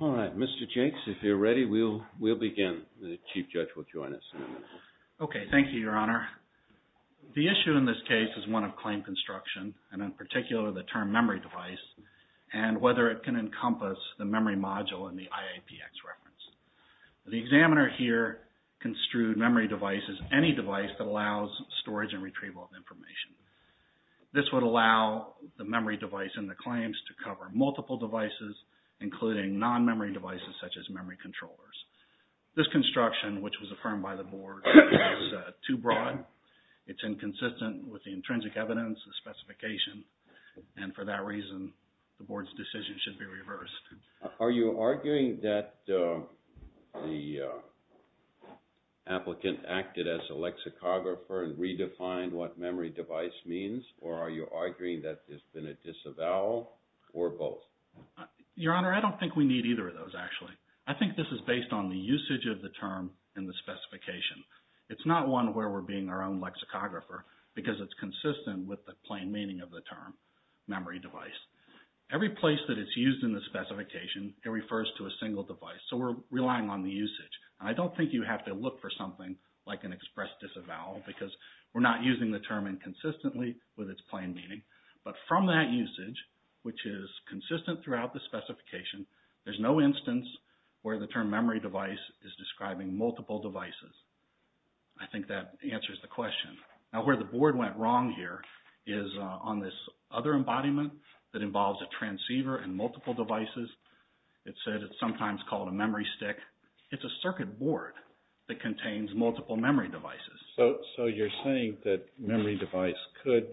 All right, Mr. Jenks, if you're ready, we'll begin. The Chief Judge will join us in a minute. Okay. Thank you, Your Honor. The issue in this case is one of claim construction, and in particular, the term memory device, and whether it can encompass the memory module in the IAPX reference. The examiner here construed memory device as any device that allows storage and retrieval of information. This would allow the memory device in the claims to cover multiple devices, including non-memory devices such as memory controllers. This construction, which was affirmed by the Board, is too broad. It's inconsistent with the intrinsic evidence, the specification, and for that reason, the Board's decision should be reversed. Are you arguing that the applicant acted as a lexicographer and redefined what memory device means, or are you arguing that there's been a disavowal, or both? Your Honor, I don't think we need either of those, actually. I think this is based on the usage of the term and the specification. It's not one where we're being our own lexicographer, because it's consistent with the plain meaning of the term, memory device. Every place that it's used in the specification, it refers to a single device, so we're relying on the usage. I don't think you have to look for something like an express disavowal, because we're not using the term inconsistently with its plain meaning, but from that usage, which is consistent throughout the specification, there's no instance where the term memory device is describing multiple devices. I think that answers the question. Now, where the Board went wrong here is on this other embodiment that involves a transceiver and multiple devices. It said it's sometimes called a memory stick. It's a circuit board that contains multiple memory devices. So you're saying that memory device could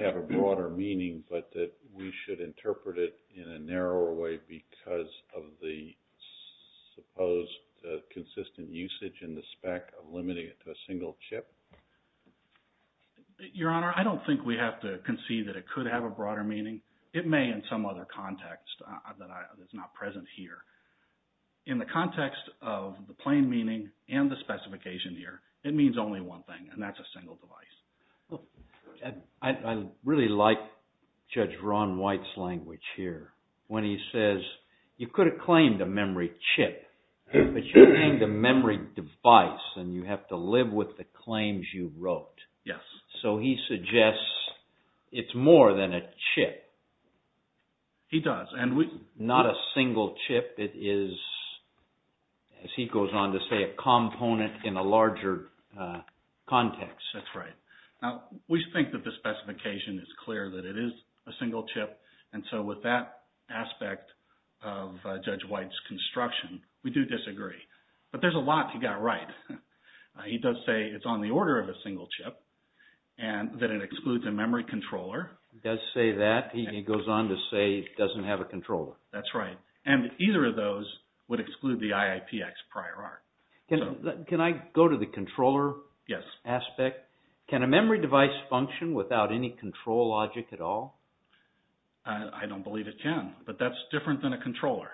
have a broader meaning, but that we should interpret it in a narrower way because of the supposed consistent usage in the spec of limiting it to a single chip? Your Honor, I don't think we have to concede that it could have a broader meaning. It may in some other context that's not present here. In the context of the plain meaning and the specification here, it means only one thing, and that's a single device. I really like Judge Ron White's language here when he says, you could have claimed a memory chip, but you claimed a memory device, and you have to live with the claims you wrote. So he suggests it's more than a chip. He does. Not a single chip, it is, as he goes on to say, a component in a larger context. That's right. Now, we think that the specification is clear that it is a single chip, and so with that we do disagree, but there's a lot he got right. He does say it's on the order of a single chip, and that it excludes a memory controller. He does say that, and he goes on to say it doesn't have a controller. That's right. And either of those would exclude the IIPX prior art. Can I go to the controller aspect? Can a memory device function without any control logic at all? I don't believe it can, but that's different than a controller.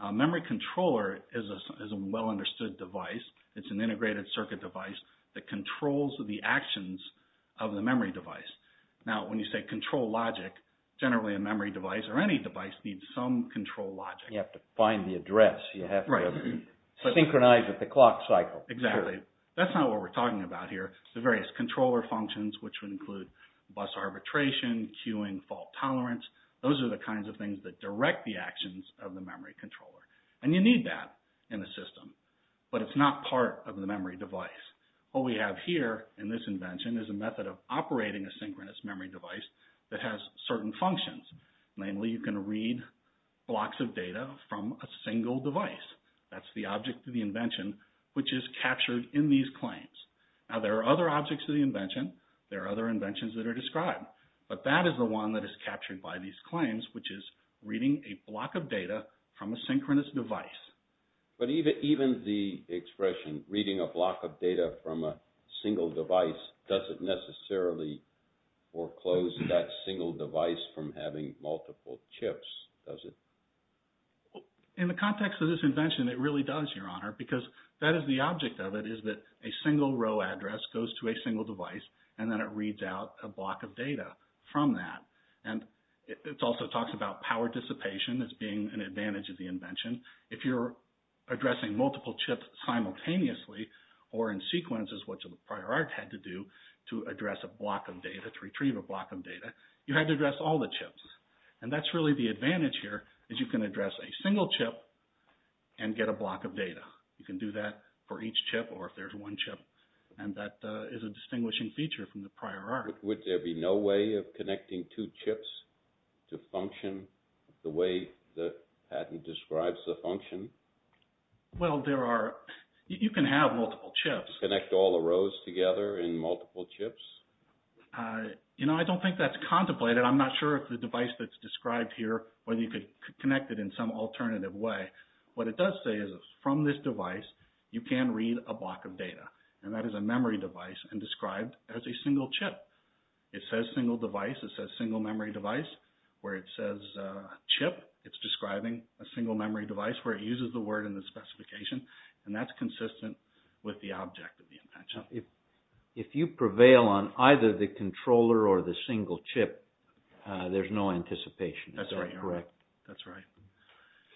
A memory controller is a well understood device. It's an integrated circuit device that controls the actions of the memory device. Now, when you say control logic, generally a memory device, or any device, needs some control logic. You have to find the address. You have to synchronize with the clock cycle. Exactly. That's not what we're talking about here. The various controller functions, which would include bus arbitration, queuing, fault tolerance, those are the kinds of things that direct the actions of the memory controller. And you need that in the system, but it's not part of the memory device. What we have here in this invention is a method of operating a synchronous memory device that has certain functions. Namely, you can read blocks of data from a single device. That's the object of the invention, which is captured in these claims. Now, there are other objects of the invention. There are other inventions that are described. But that is the one that is captured by these claims, which is reading a block of data from a synchronous device. But even the expression, reading a block of data from a single device, doesn't necessarily foreclose that single device from having multiple chips, does it? In the context of this invention, it really does, Your Honor, because that is the object of it, is that a single row address goes to a single device, and then it reads out a block of data from that. And it also talks about power dissipation as being an advantage of the invention. If you're addressing multiple chips simultaneously, or in sequences, which the prior art had to do to address a block of data, to retrieve a block of data, you had to address all the chips. And that's really the advantage here, is you can address a single chip and get a block of data. You can do that for each chip, or if there's one chip, and that is a distinguishing feature from the prior art. Would there be no way of connecting two chips to function the way that Patton describes the function? Well, there are. You can have multiple chips. Connect all the rows together in multiple chips? You know, I don't think that's contemplated. I'm not sure if the device that's described here, whether you could connect it in some alternative way. What it does say is, from this device, you can read a block of data, and that is a memory device, and described as a single chip. It says single device, it says single memory device, where it says chip, it's describing a single memory device, where it uses the word in the specification, and that's consistent with the object of the invention. If you prevail on either the controller or the single chip, there's no anticipation, is that correct? That's right.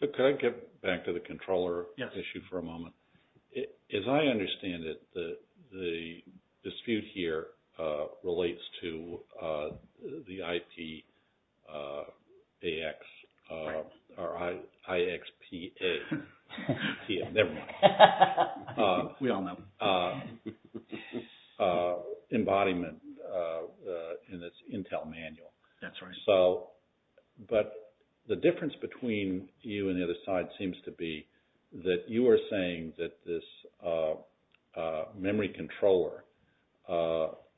Could I get back to the controller issue for a moment? As I understand it, the dispute here relates to the IPAX, or IXPA, we all know, embodiment in its Intel manual. That's right. But the difference between you and the other side seems to be that you are saying that this memory controller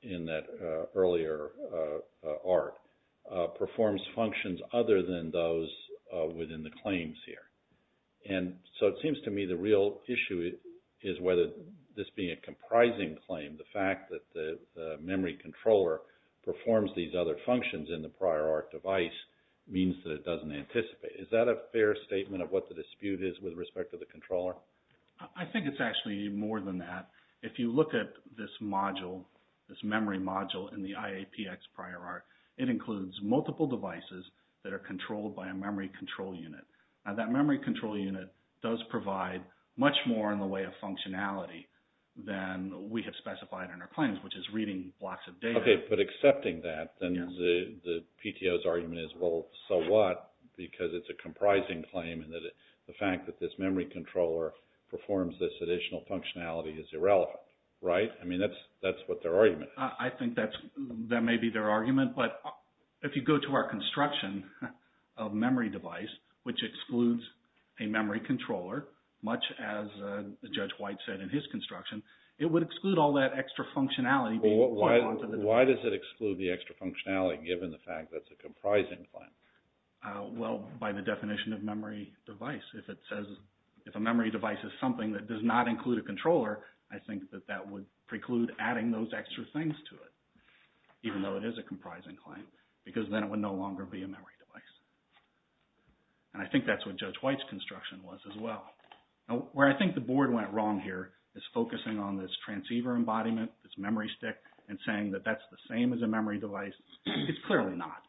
in that earlier art performs functions other than those within the claims here. And so it seems to me the real issue is whether this being a comprising claim, the fact that the memory controller performs these other functions in the prior art device means that it doesn't anticipate. Is that a fair statement of what the dispute is with respect to the controller? I think it's actually more than that. If you look at this module, this memory module in the IAPX prior art, it includes multiple devices that are controlled by a memory control unit. Now that memory control unit does provide much more in the way of functionality than we have specified in our claims, which is reading lots of data. Okay, but accepting that, then the PTO's argument is, well, so what? Because it's a comprising claim and the fact that this memory controller performs this additional functionality is irrelevant, right? I mean, that's what their argument is. I think that may be their argument, but if you go to our construction of memory device, which excludes a memory controller, much as Judge White said in his construction, it would exclude all that extra functionality being pointed onto the device. Why does it exclude the extra functionality, given the fact that it's a comprising claim? Well, by the definition of memory device, if it says, if a memory device is something that does not include a controller, I think that that would preclude adding those extra things to it, even though it is a comprising claim, because then it would no longer be a memory device, and I think that's what Judge White's construction was as well. Now, where I think the board went wrong here is focusing on this transceiver embodiment, this memory stick, and saying that that's the same as a memory device. It's clearly not.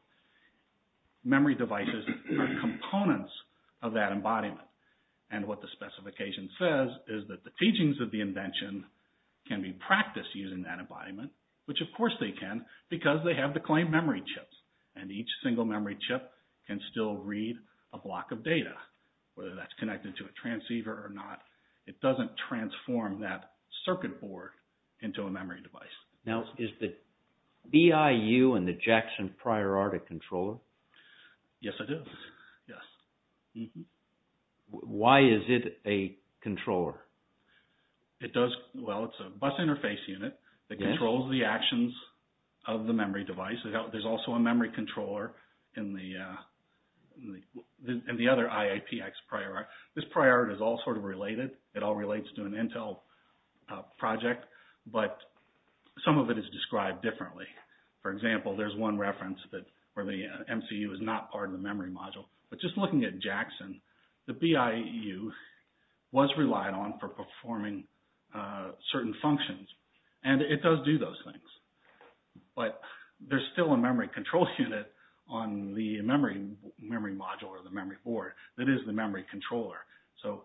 Memory devices are components of that embodiment, and what the specification says is that the teachings of the invention can be practiced using that embodiment, which of course they can, because they have the claimed memory chips, and each single memory chip can still read a block of data, whether that's connected to a transceiver or not. It doesn't transform that circuit board into a memory device. Now, is the BIU and the Jackson Prior Artic controller? Yes, it is. Yes. Why is it a controller? It does... Well, it's a bus interface unit that controls the actions of the memory device. There's also a memory controller in the other IAPX Prior Artic. This Prior Artic is all sort of related. It all relates to an Intel project, but some of it is described differently. For example, there's one reference where the MCU is not part of the memory module, but just looking at Jackson, the BIU was relied on for performing certain functions, and it does do those things. But there's still a memory control unit on the memory module or the memory board that is the memory controller. So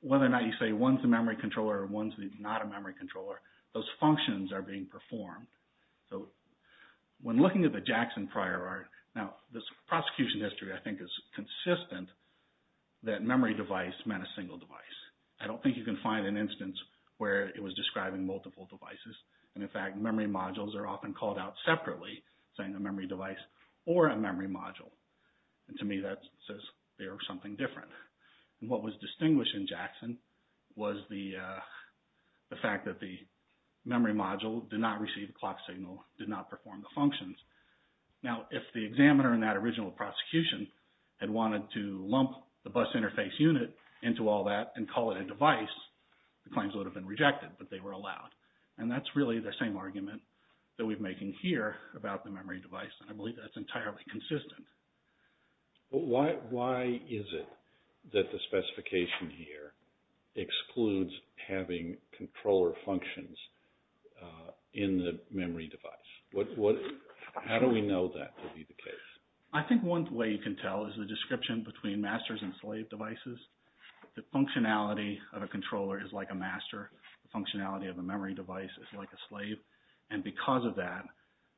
whether or not you say one's a memory controller or one's not a memory controller, those functions are being performed. So when looking at the Jackson Prior Artic... Now, this prosecution history, I think, is consistent that memory device meant a single device. I don't think you can find an instance where it was describing multiple devices, and in most cases, those modules are often called out separately, saying a memory device or a memory module. And to me, that says they are something different. What was distinguished in Jackson was the fact that the memory module did not receive a clock signal, did not perform the functions. Now, if the examiner in that original prosecution had wanted to lump the bus interface unit into all that and call it a device, the claims would have been rejected, but they were allowed. And that's really the same argument that we're making here about the memory device, and I believe that's entirely consistent. But why is it that the specification here excludes having controller functions in the memory device? How do we know that to be the case? I think one way you can tell is the description between masters and slave devices. The functionality of a controller is like a master. The functionality of a memory device is like a slave. And because of that,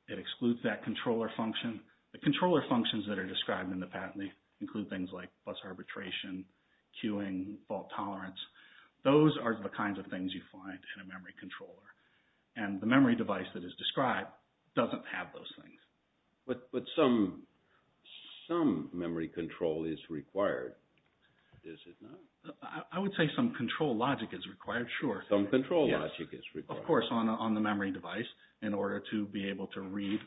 it excludes that controller function. The controller functions that are described in the patent, they include things like bus arbitration, queuing, fault tolerance. Those are the kinds of things you find in a memory controller. And the memory device that is described doesn't have those things. But some memory control is required, is it not? I would say some control logic is required, sure. Some control logic is required. Of course, on the memory device, in order to be able to read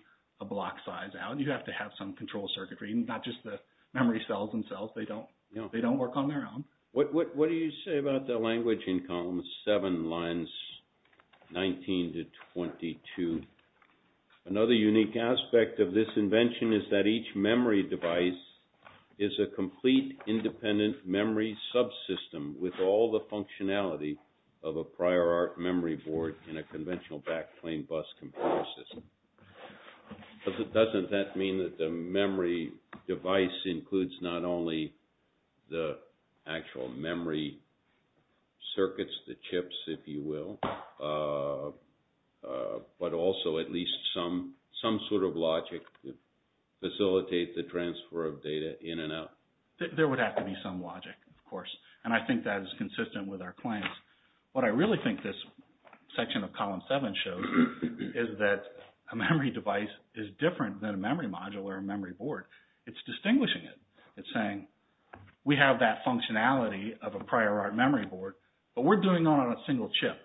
a block size out, you have to have some control circuitry, not just the memory cells themselves. They don't work on their own. What do you say about the language in column 7, lines 19 to 22? Another unique aspect of this invention is that each memory device is a complete independent memory subsystem with all the functionality of a prior art memory board in a conventional backplane bus computer system. Doesn't that mean that the memory device includes not only the actual memory circuits, the chips, if you will, but also at least some sort of logic to facilitate the transfer of data in and out? There would have to be some logic, of course. And I think that is consistent with our claims. What I really think this section of column 7 shows is that a memory device is different than a memory module or a memory board. It's distinguishing it. It's saying, we have that functionality of a prior art memory board, but we're doing it on a single chip.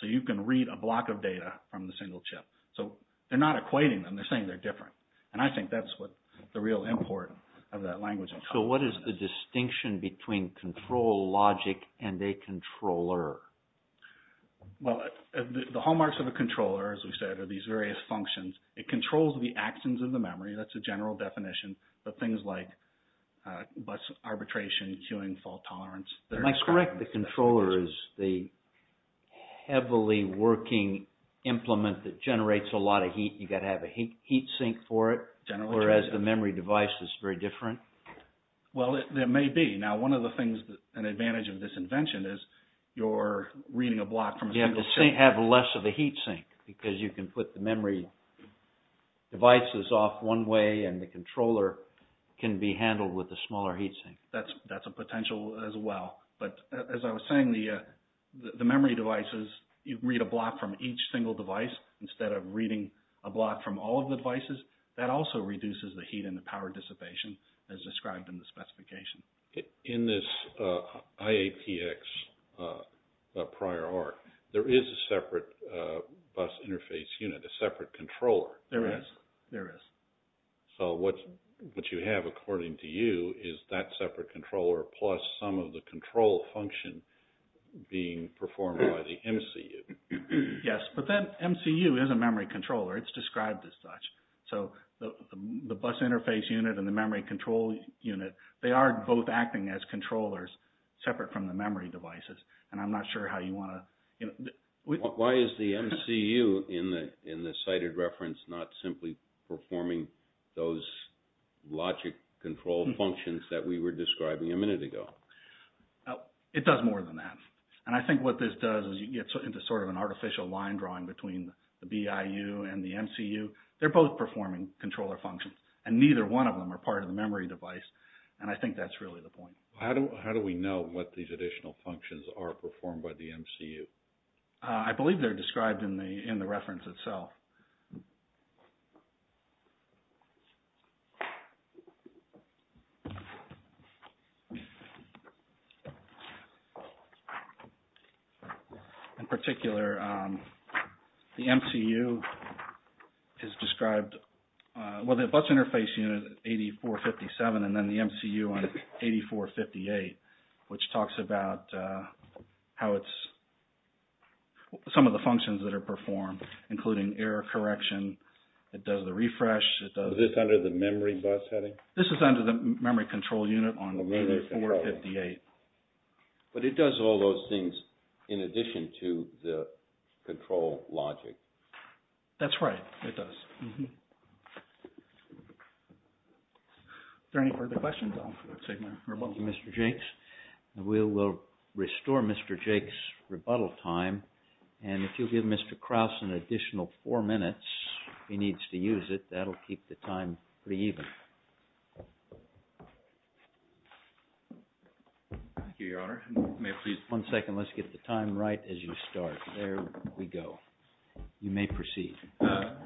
So you can read a block of data from the single chip. So they're not equating them, they're saying they're different. And I think that's what the real import of that language in column 7 is. So what is the distinction between control logic and a controller? Well, the hallmarks of a controller, as we've said, are these various functions. It controls the actions of the memory, that's a general definition, but things like bus is the heavily working implement that generates a lot of heat. You've got to have a heat sink for it, whereas the memory device is very different. Well, there may be. Now one of the things that's an advantage of this invention is you're reading a block from a single chip. You have less of a heat sink because you can put the memory devices off one way and the controller can be handled with a smaller heat sink. That's a potential as well. But as I was saying, the memory devices, you can read a block from each single device instead of reading a block from all of the devices. That also reduces the heat and the power dissipation as described in the specification. In this IAPX prior art, there is a separate bus interface unit, a separate controller. There is. There is. So what you have, according to you, is that separate controller plus some of the control function being performed by the MCU. Yes. But that MCU is a memory controller. It's described as such. So the bus interface unit and the memory control unit, they are both acting as controllers separate from the memory devices, and I'm not sure how you want to... Why is the MCU in the cited reference not simply performing those logic control functions that we were describing a minute ago? It does more than that, and I think what this does is you get into sort of an artificial line drawing between the BIU and the MCU. They're both performing controller functions, and neither one of them are part of the memory device, and I think that's really the point. I believe they're described in the reference itself. In particular, the MCU is described... So the bus interface unit, 8457, and then the MCU on 8458, which talks about how it's... Some of the functions that are performed, including error correction. It does the refresh. It does... Is this under the memory bus heading? This is under the memory control unit on 8458. But it does all those things in addition to the control logic. That's right. It does. Mm-hmm. Are there any further questions? I'll take my rebuttal time. Thank you, Mr. Jakes. We will restore Mr. Jakes' rebuttal time, and if you'll give Mr. Kraus an additional four minutes, if he needs to use it, that'll keep the time pretty even. Thank you, Your Honor. May I please... One second. Let's get the time right as you start. There we go. You may proceed. Thank you, Your Honor.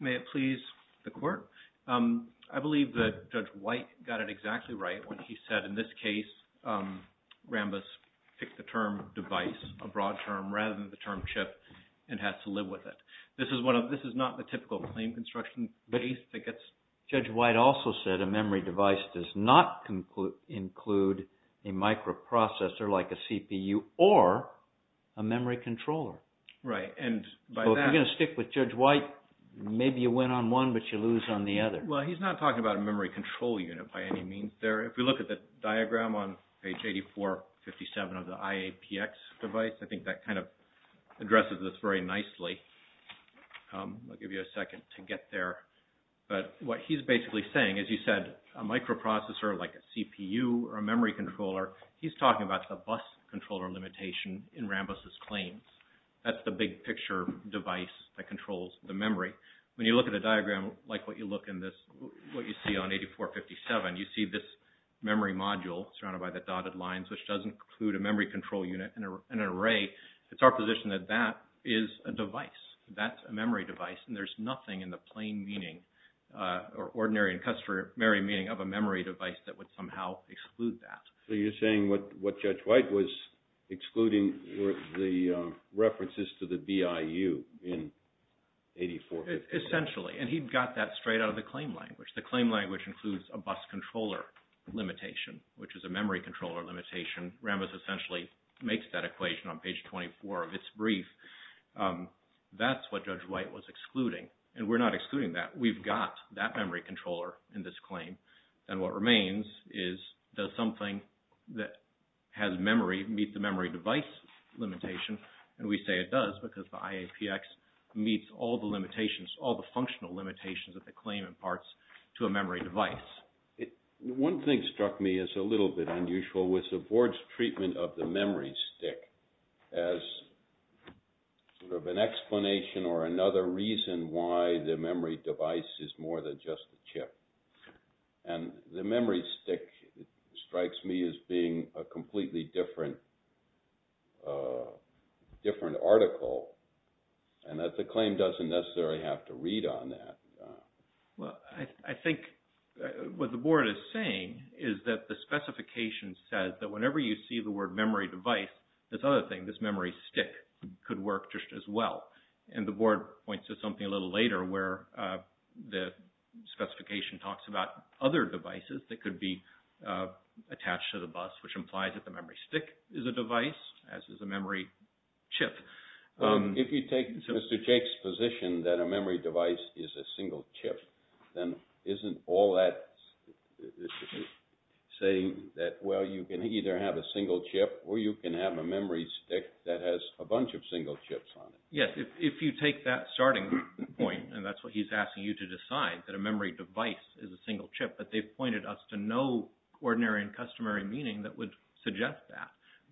May it please the Court? I believe that Judge White got it exactly right when he said, in this case, Rambis picked the term device, a broad term, rather than the term chip, and has to live with it. This is not the typical claim construction case that gets... Judge White also said a memory device does not include a microprocessor, like a CPU, or a memory controller. Right. So if you're going to stick with Judge White, maybe you win on one, but you lose on the other. Well, he's not talking about a memory control unit by any means there. If you look at the diagram on page 8457 of the IAPX device, I think that kind of addresses this very nicely. I'll give you a second to get there. But what he's basically saying, as you said, a microprocessor, like a CPU, or a memory device, that's the big picture device that controls the memory. When you look at a diagram like what you see on 8457, you see this memory module surrounded by the dotted lines, which does include a memory control unit and an array. It's our position that that is a device. That's a memory device, and there's nothing in the plain meaning, or ordinary and customary meaning, of a memory device that would somehow exclude that. So you're saying what Judge White was excluding were the references to the BIU in 8457. Essentially. And he got that straight out of the claim language. The claim language includes a bus controller limitation, which is a memory controller limitation. Rambis essentially makes that equation on page 24 of its brief. That's what Judge White was excluding. And we're not excluding that. We've got that memory controller in this claim. And what remains is that something that has memory meet the memory device limitation. And we say it does because the IAPX meets all the limitations, all the functional limitations that the claim imparts to a memory device. One thing struck me as a little bit unusual was the board's treatment of the memory stick as sort of an explanation or another reason why the memory device is more than just a chip. And the memory stick strikes me as being a completely different article. And the claim doesn't necessarily have to read on that. Well, I think what the board is saying is that the specification says that whenever you see the word memory device, this other thing, this memory stick, could work just as well. And the board points to something a little later where the specification talks about other devices that could be attached to the bus, which implies that the memory stick is a device, as is a memory chip. If you take Mr. Jake's position that a memory device is a single chip, then isn't all that saying that, well, you can either have a single chip or you can have a memory stick that has a bunch of single chips on it? Yes, if you take that starting point, and that's what he's asking you to decide, that a memory device is a single chip. But they've pointed us to no ordinary and customary meaning that would suggest that.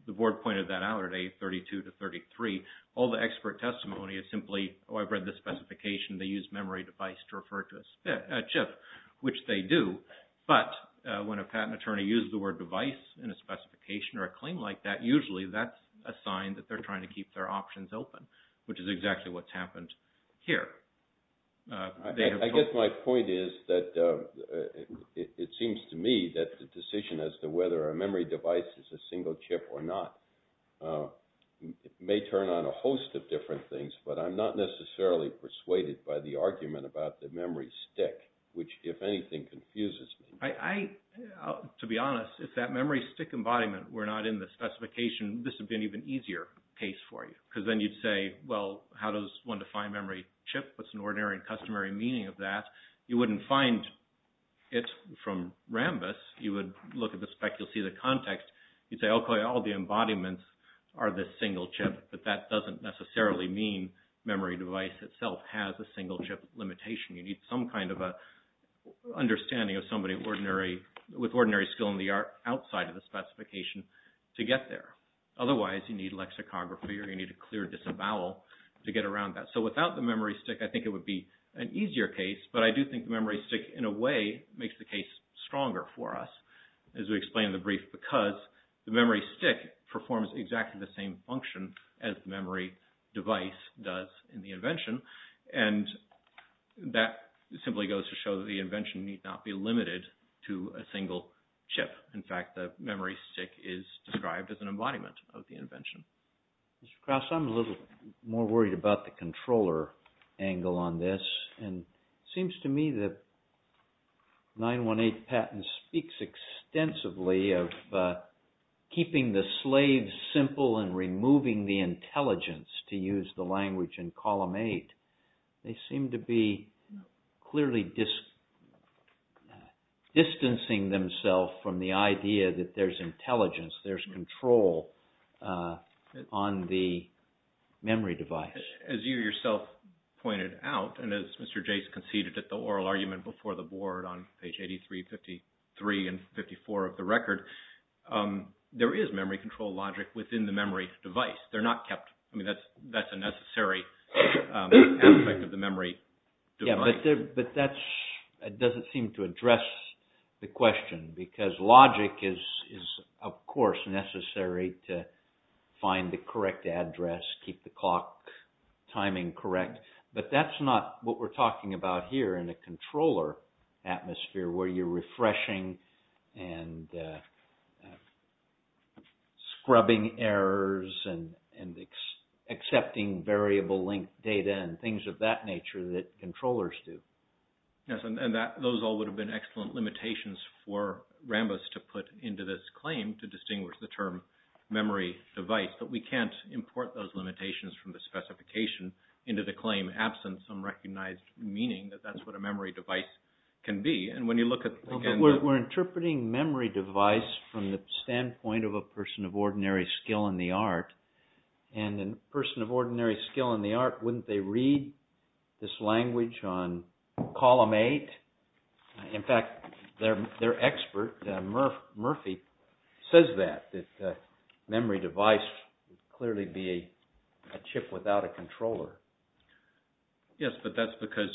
The board pointed that out at age 32 to 33. All the expert testimony is simply, oh, I've read the specification. They use memory device to refer to a chip, which they do. But when a patent attorney uses the word device in a specification or a claim like that, which is exactly what's happened here. I guess my point is that it seems to me that the decision as to whether a memory device is a single chip or not may turn on a host of different things. But I'm not necessarily persuaded by the argument about the memory stick, which, if anything, confuses me. To be honest, if that memory stick embodiment were not in the specification, this would have been an even easier case for you. Because then you'd say, well, how does one define memory chip? What's an ordinary and customary meaning of that? You wouldn't find it from Rambus. You would look at the spec, you'll see the context. You'd say, okay, all the embodiments are the single chip. But that doesn't necessarily mean memory device itself has a single chip limitation. You need some kind of an understanding of somebody with ordinary skill in the art outside of the specification to get there. Otherwise, you need lexicography or you need a clear disavowal to get around that. So without the memory stick, I think it would be an easier case. But I do think the memory stick, in a way, makes the case stronger for us, as we explain in the brief, because the memory stick performs exactly the same function as the memory device does in the invention. And that simply goes to show that the invention need not be limited to a single chip. In fact, the memory stick is described as an embodiment of the invention. Mr. Krause, I'm a little more worried about the controller angle on this. And it seems to me that 918 patent speaks extensively of keeping the slaves simple and removing the intelligence to use the language in column 8. They seem to be clearly distancing themselves from the idea that there's intelligence, there's control on the memory device. As you yourself pointed out, and as Mr. Jase conceded at the oral argument before the board on page 83, 53, and 54 of the record, there is memory control logic within the memory device. That's a necessary aspect of the memory device. But that doesn't seem to address the question, because logic is, of course, necessary to find the correct address, keep the clock timing correct. But that's not what we're talking about here in a controller atmosphere, where you're refreshing and scrubbing errors and accepting variable link data, and things of that nature that controllers do. Yes, and those all would have been excellent limitations for Rambos to put into this claim to distinguish the term memory device. But we can't import those limitations from the specification into the claim absent some recognized meaning that that's what a memory device can be. We're interpreting memory device from the standpoint of a person of ordinary skill in the art. And a person of ordinary skill in the art, wouldn't they read this language on column 8? In fact, their expert, Murphy, says that, Yes, but that's because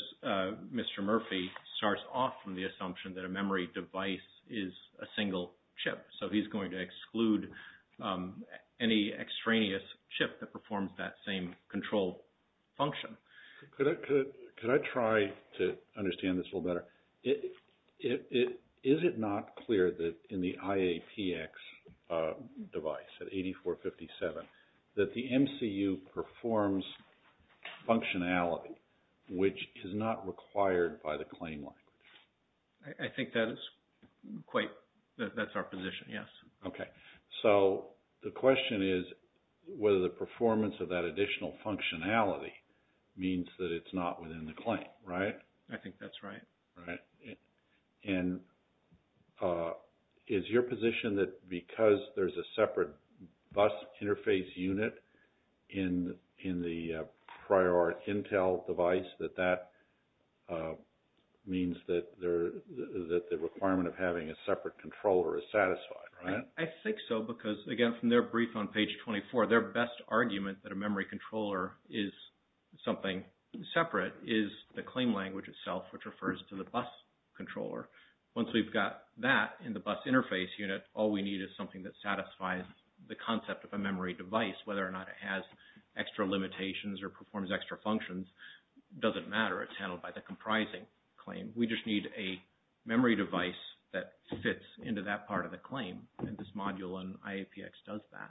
Mr. Murphy starts off from the assumption that a memory device is a single chip. So he's going to exclude any extraneous chip that performs that same control function. Could I try to understand this a little better? Is it not clear that in the IAPX device at 8457, that the MCU performs functionality which is not required by the claim line? I think that is quite, that's our position, yes. Okay, so the question is whether the performance of that additional functionality means that it's not within the claim, right? I think that's right. And is your position that because there's a separate bus interface unit in the prior, or Intel device, that that means that the requirement of having a separate controller is satisfied, right? I think so, because again, from their brief on page 24, their best argument that a memory controller is something separate is the claim language itself, which refers to the bus controller. Once we've got that in the bus interface unit, all we need is something that satisfies the concept of a memory device, whether or not it has extra limitations or performs extra functions, doesn't matter, it's handled by the comprising claim. We just need a memory device that fits into that part of the claim, and this module in IAPX does that.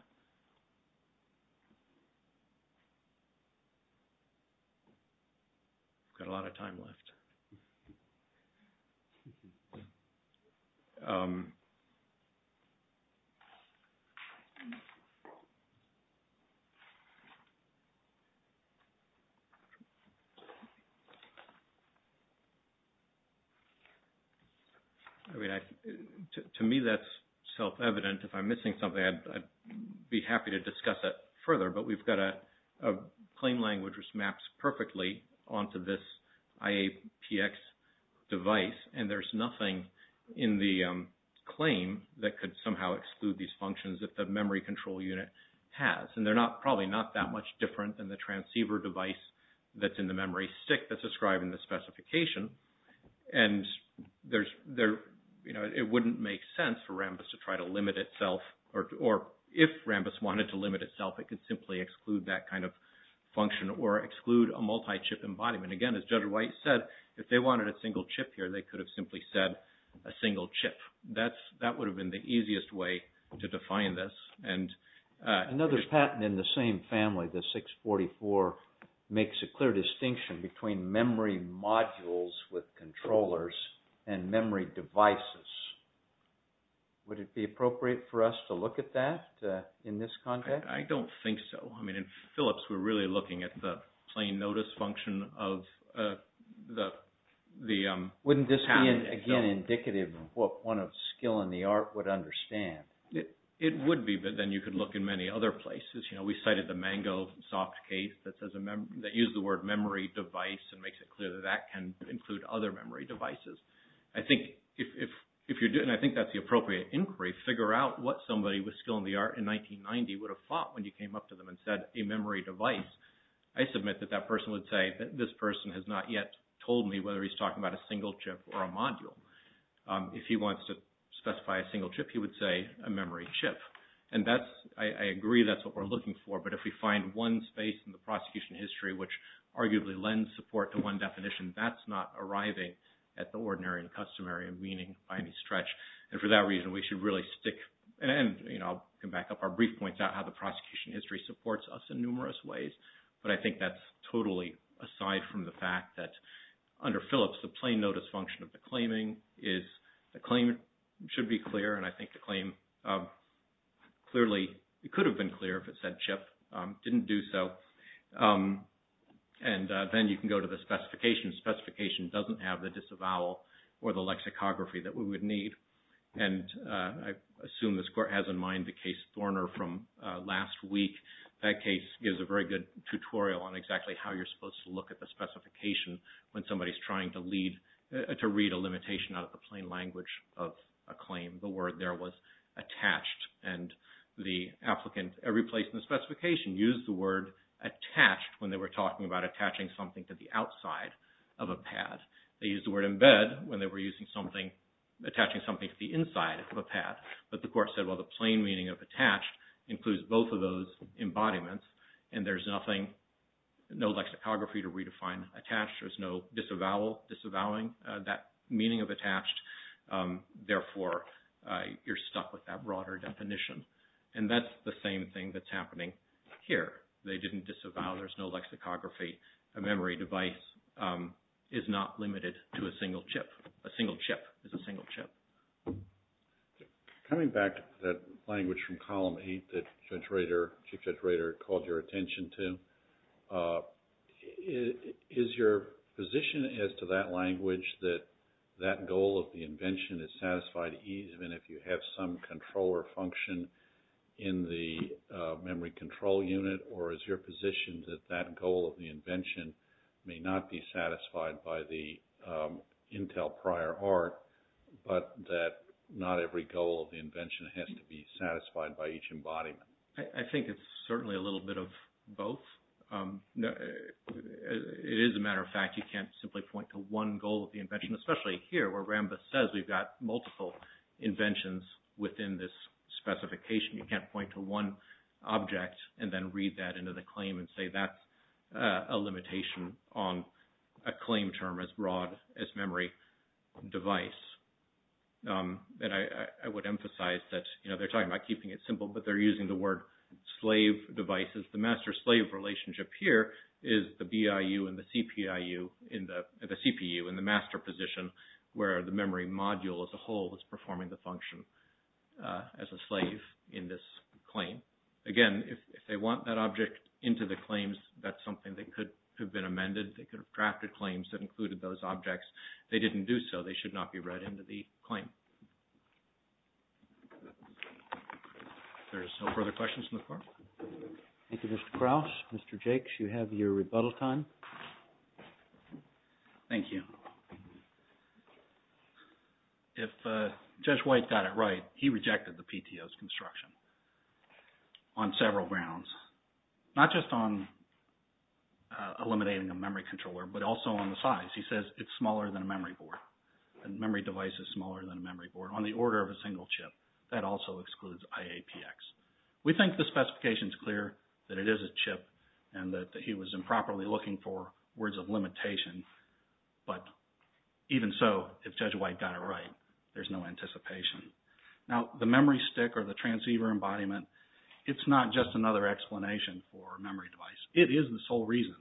Got a lot of time left. Okay. To me, that's self-evident. If I'm missing something, I'd be happy to discuss it further, but we've got a claim language which maps perfectly onto this IAPX device, and there's nothing in the IAPX that could somehow exclude these functions if the memory control unit has. And they're probably not that much different than the transceiver device that's in the memory stick that's described in the specification, and it wouldn't make sense for Rambus to try to limit itself, or if Rambus wanted to limit itself, it could simply exclude that kind of function, or exclude a multi-chip embodiment. Again, as Judge White said, if they wanted a single chip here, they could have simply said a single chip. That would have been the easiest way to define this. Another patent in the same family, the 644, makes a clear distinction between memory modules with controllers and memory devices. Would it be appropriate for us to look at that in this context? I don't think so. I mean, in Philips, we're really looking at the plain notice function of the Wouldn't this be, again, indicative of what one of skill in the art would understand? It would be, but then you could look in many other places. We cited the Mango soft case that used the word memory device and makes it clear that that can include other memory devices. I think if you're doing, and I think that's the appropriate inquiry, figure out what somebody with skill in the art in 1990 would have thought when you came up to them and said a memory device. I submit that that person would say that this person has not yet told me whether he's talking about a single chip or a module. If he wants to specify a single chip, he would say a memory chip. I agree that's what we're looking for, but if we find one space in the prosecution history which arguably lends support to one definition, that's not arriving at the ordinary and customary meaning by any stretch. And for that reason we should really stick, and I'll come back up, our brief points out how the prosecution history supports us in numerous ways, but I think that's totally aside from the fact that under Phillips the plain notice function of the claiming is the claim should be clear, and I think the claim clearly, it could have been clear if it said chip. It didn't do so. And then you can go to the specifications. Specification doesn't have the disavowal or the lexicography that we would need. And I assume this Court has in mind the case Thorner from last week. That case gives a very good tutorial on exactly how you're supposed to look at the specification when somebody's trying to read a limitation out of the plain language of a claim. The word there was attached, and the applicant, every place in the specification, used the word attached when they were talking about attaching something to the outside of a pad. They used the word embed when they were attaching something to the inside of a pad. But the Court said, well, the plain meaning of attached includes both of those embodiments, and there's nothing, no lexicography to redefine attached. There's no disavowal, disavowing that meaning of attached. Therefore, you're stuck with that broader definition. And that's the same thing that's happening here. They didn't disavow. There's no lexicography. A memory device is not limited to a single chip. A single chip is a single chip. Coming back to that point that Chief Judge Rader called your attention to, is your position as to that language that that goal of the invention is satisfied even if you have some controller function in the memory control unit, or is your position that that goal of the invention may not be satisfied by the Intel prior art, but that not every goal of the invention has to be satisfied? I think it's certainly a little bit of both. As a matter of fact, you can't simply point to one goal of the invention, especially here where RAMBA says we've got multiple inventions within this specification. You can't point to one object and then read that into the claim and say that's a limitation on a claim term as broad as memory device. And I would emphasize that they're talking about keeping it simple, but they're using the word slave devices. The master-slave relationship here is the BIU and the CPU in the master position where the memory module as a whole is performing the function as a slave in this claim. Again, if they want that object into the claims, that's something that could have been amended. They could have drafted claims that included those objects. They didn't do so. They should not be read into the claim. If there's no further questions in the floor. Thank you, Mr. Krause. Mr. Jakes, you have your rebuttal time. Thank you. If Judge White got it right, he rejected the PTO's construction on several grounds, not just on eliminating a memory controller, but also on the size. He says it's smaller than a memory board. A memory device is smaller than a memory board on the order of a single chip. That also excludes IAPX. We think the specification is clear that it is a chip and that he was improperly looking for words of limitation, but even so, if Judge White got it right, there's no anticipation. Now, the memory stick or the transceiver embodiment, it's not just another explanation for a memory device. It is the sole reason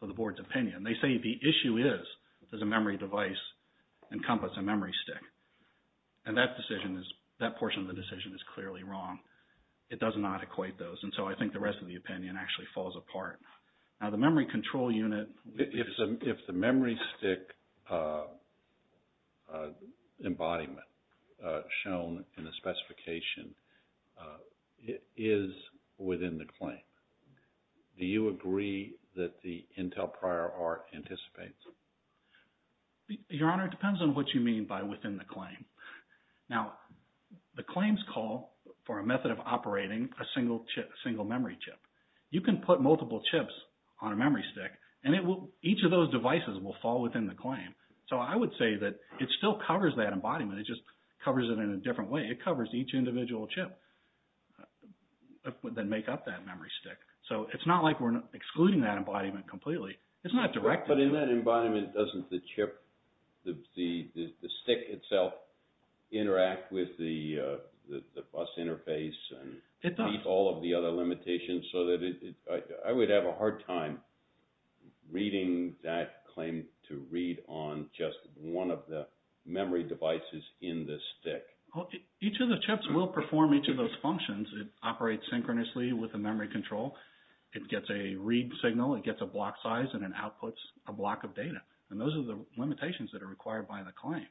for the board's opinion. They say the issue is, does a memory device encompass a memory stick? And that decision is, that portion of the decision is clearly wrong. It does not equate those, and so I think the rest of the opinion actually falls apart. Now, the memory control unit... If the memory stick embodiment shown in the specification is within the claim, do you agree that the claim... Your Honor, it depends on what you mean by within the claim. Now, the claims call for a method of operating a single memory chip. You can put multiple chips on a memory stick, and each of those devices will fall within the claim. So I would say that it still covers that embodiment, it just covers it in a different way. It covers each individual chip that make up that memory stick. So it's not like we're excluding that embodiment completely. It's not directed... But in that embodiment, doesn't the chip, the stick itself, interact with the bus interface and meet all of the other limitations? I would have a hard time reading that claim to read on just one of the memory devices in the stick. Each of the chips will perform each of those functions. It operates synchronously with the memory control. It gets a read signal, it gets a block size, and it outputs a block of data. And those are the limitations that are required by the claim.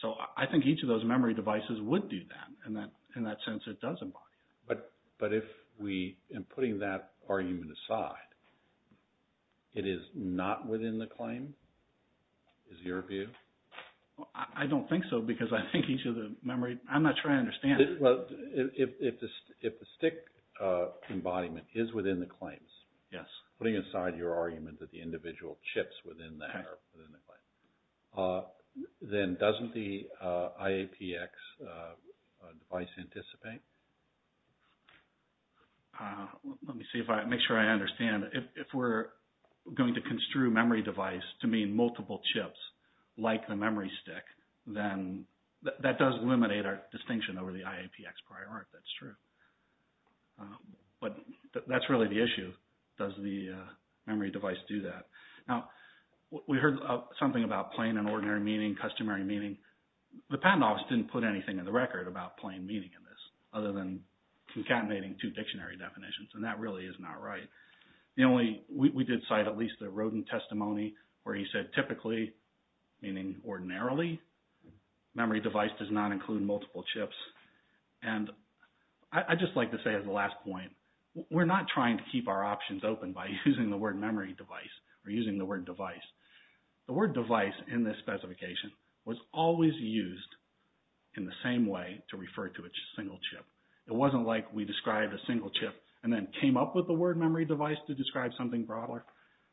So I think each of those memory devices would do that, in that sense, it does embody. But if we... And putting that argument aside, it is not within the claim, is your view? I don't think so, because I think each of the memory... I'm not sure I understand it. Well, if the stick embodiment is within the claims, putting aside your argument that the individual chips within that are within the claim, then doesn't the IAPX device anticipate? Let me see if I... Make sure I understand. If we're going to construe memory device to mean multiple chips, like the memory stick, then that does eliminate our distinction over the IAPX prior art, that's true. But that's really the issue. Does the memory device do that? We heard something about plain and ordinary meaning, customary meaning. The patent office didn't put anything in the record about plain meaning in this, other than concatenating two dictionary definitions, and that really is not right. We did cite at least the Rodin testimony, where he said typically, meaning ordinarily, memory device does not include multiple chips. And I'd just like to say as a last point, we're not trying to keep our options open by using the word memory device or using the word device. The word device in this specification was always used in the same way to refer to a single chip. It wasn't like we described a single chip and then came up with the word memory device to describe something broader.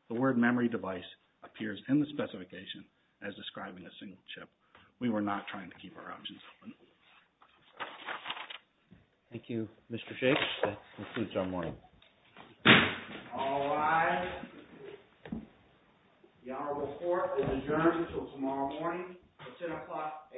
The word memory device appears in the specification as describing a single chip. We were not trying to keep our options open. Thank you, Mr. Shakespeare. That concludes our morning. All rise. The honorable court is adjourned until tomorrow morning at 10 o'clock a.m.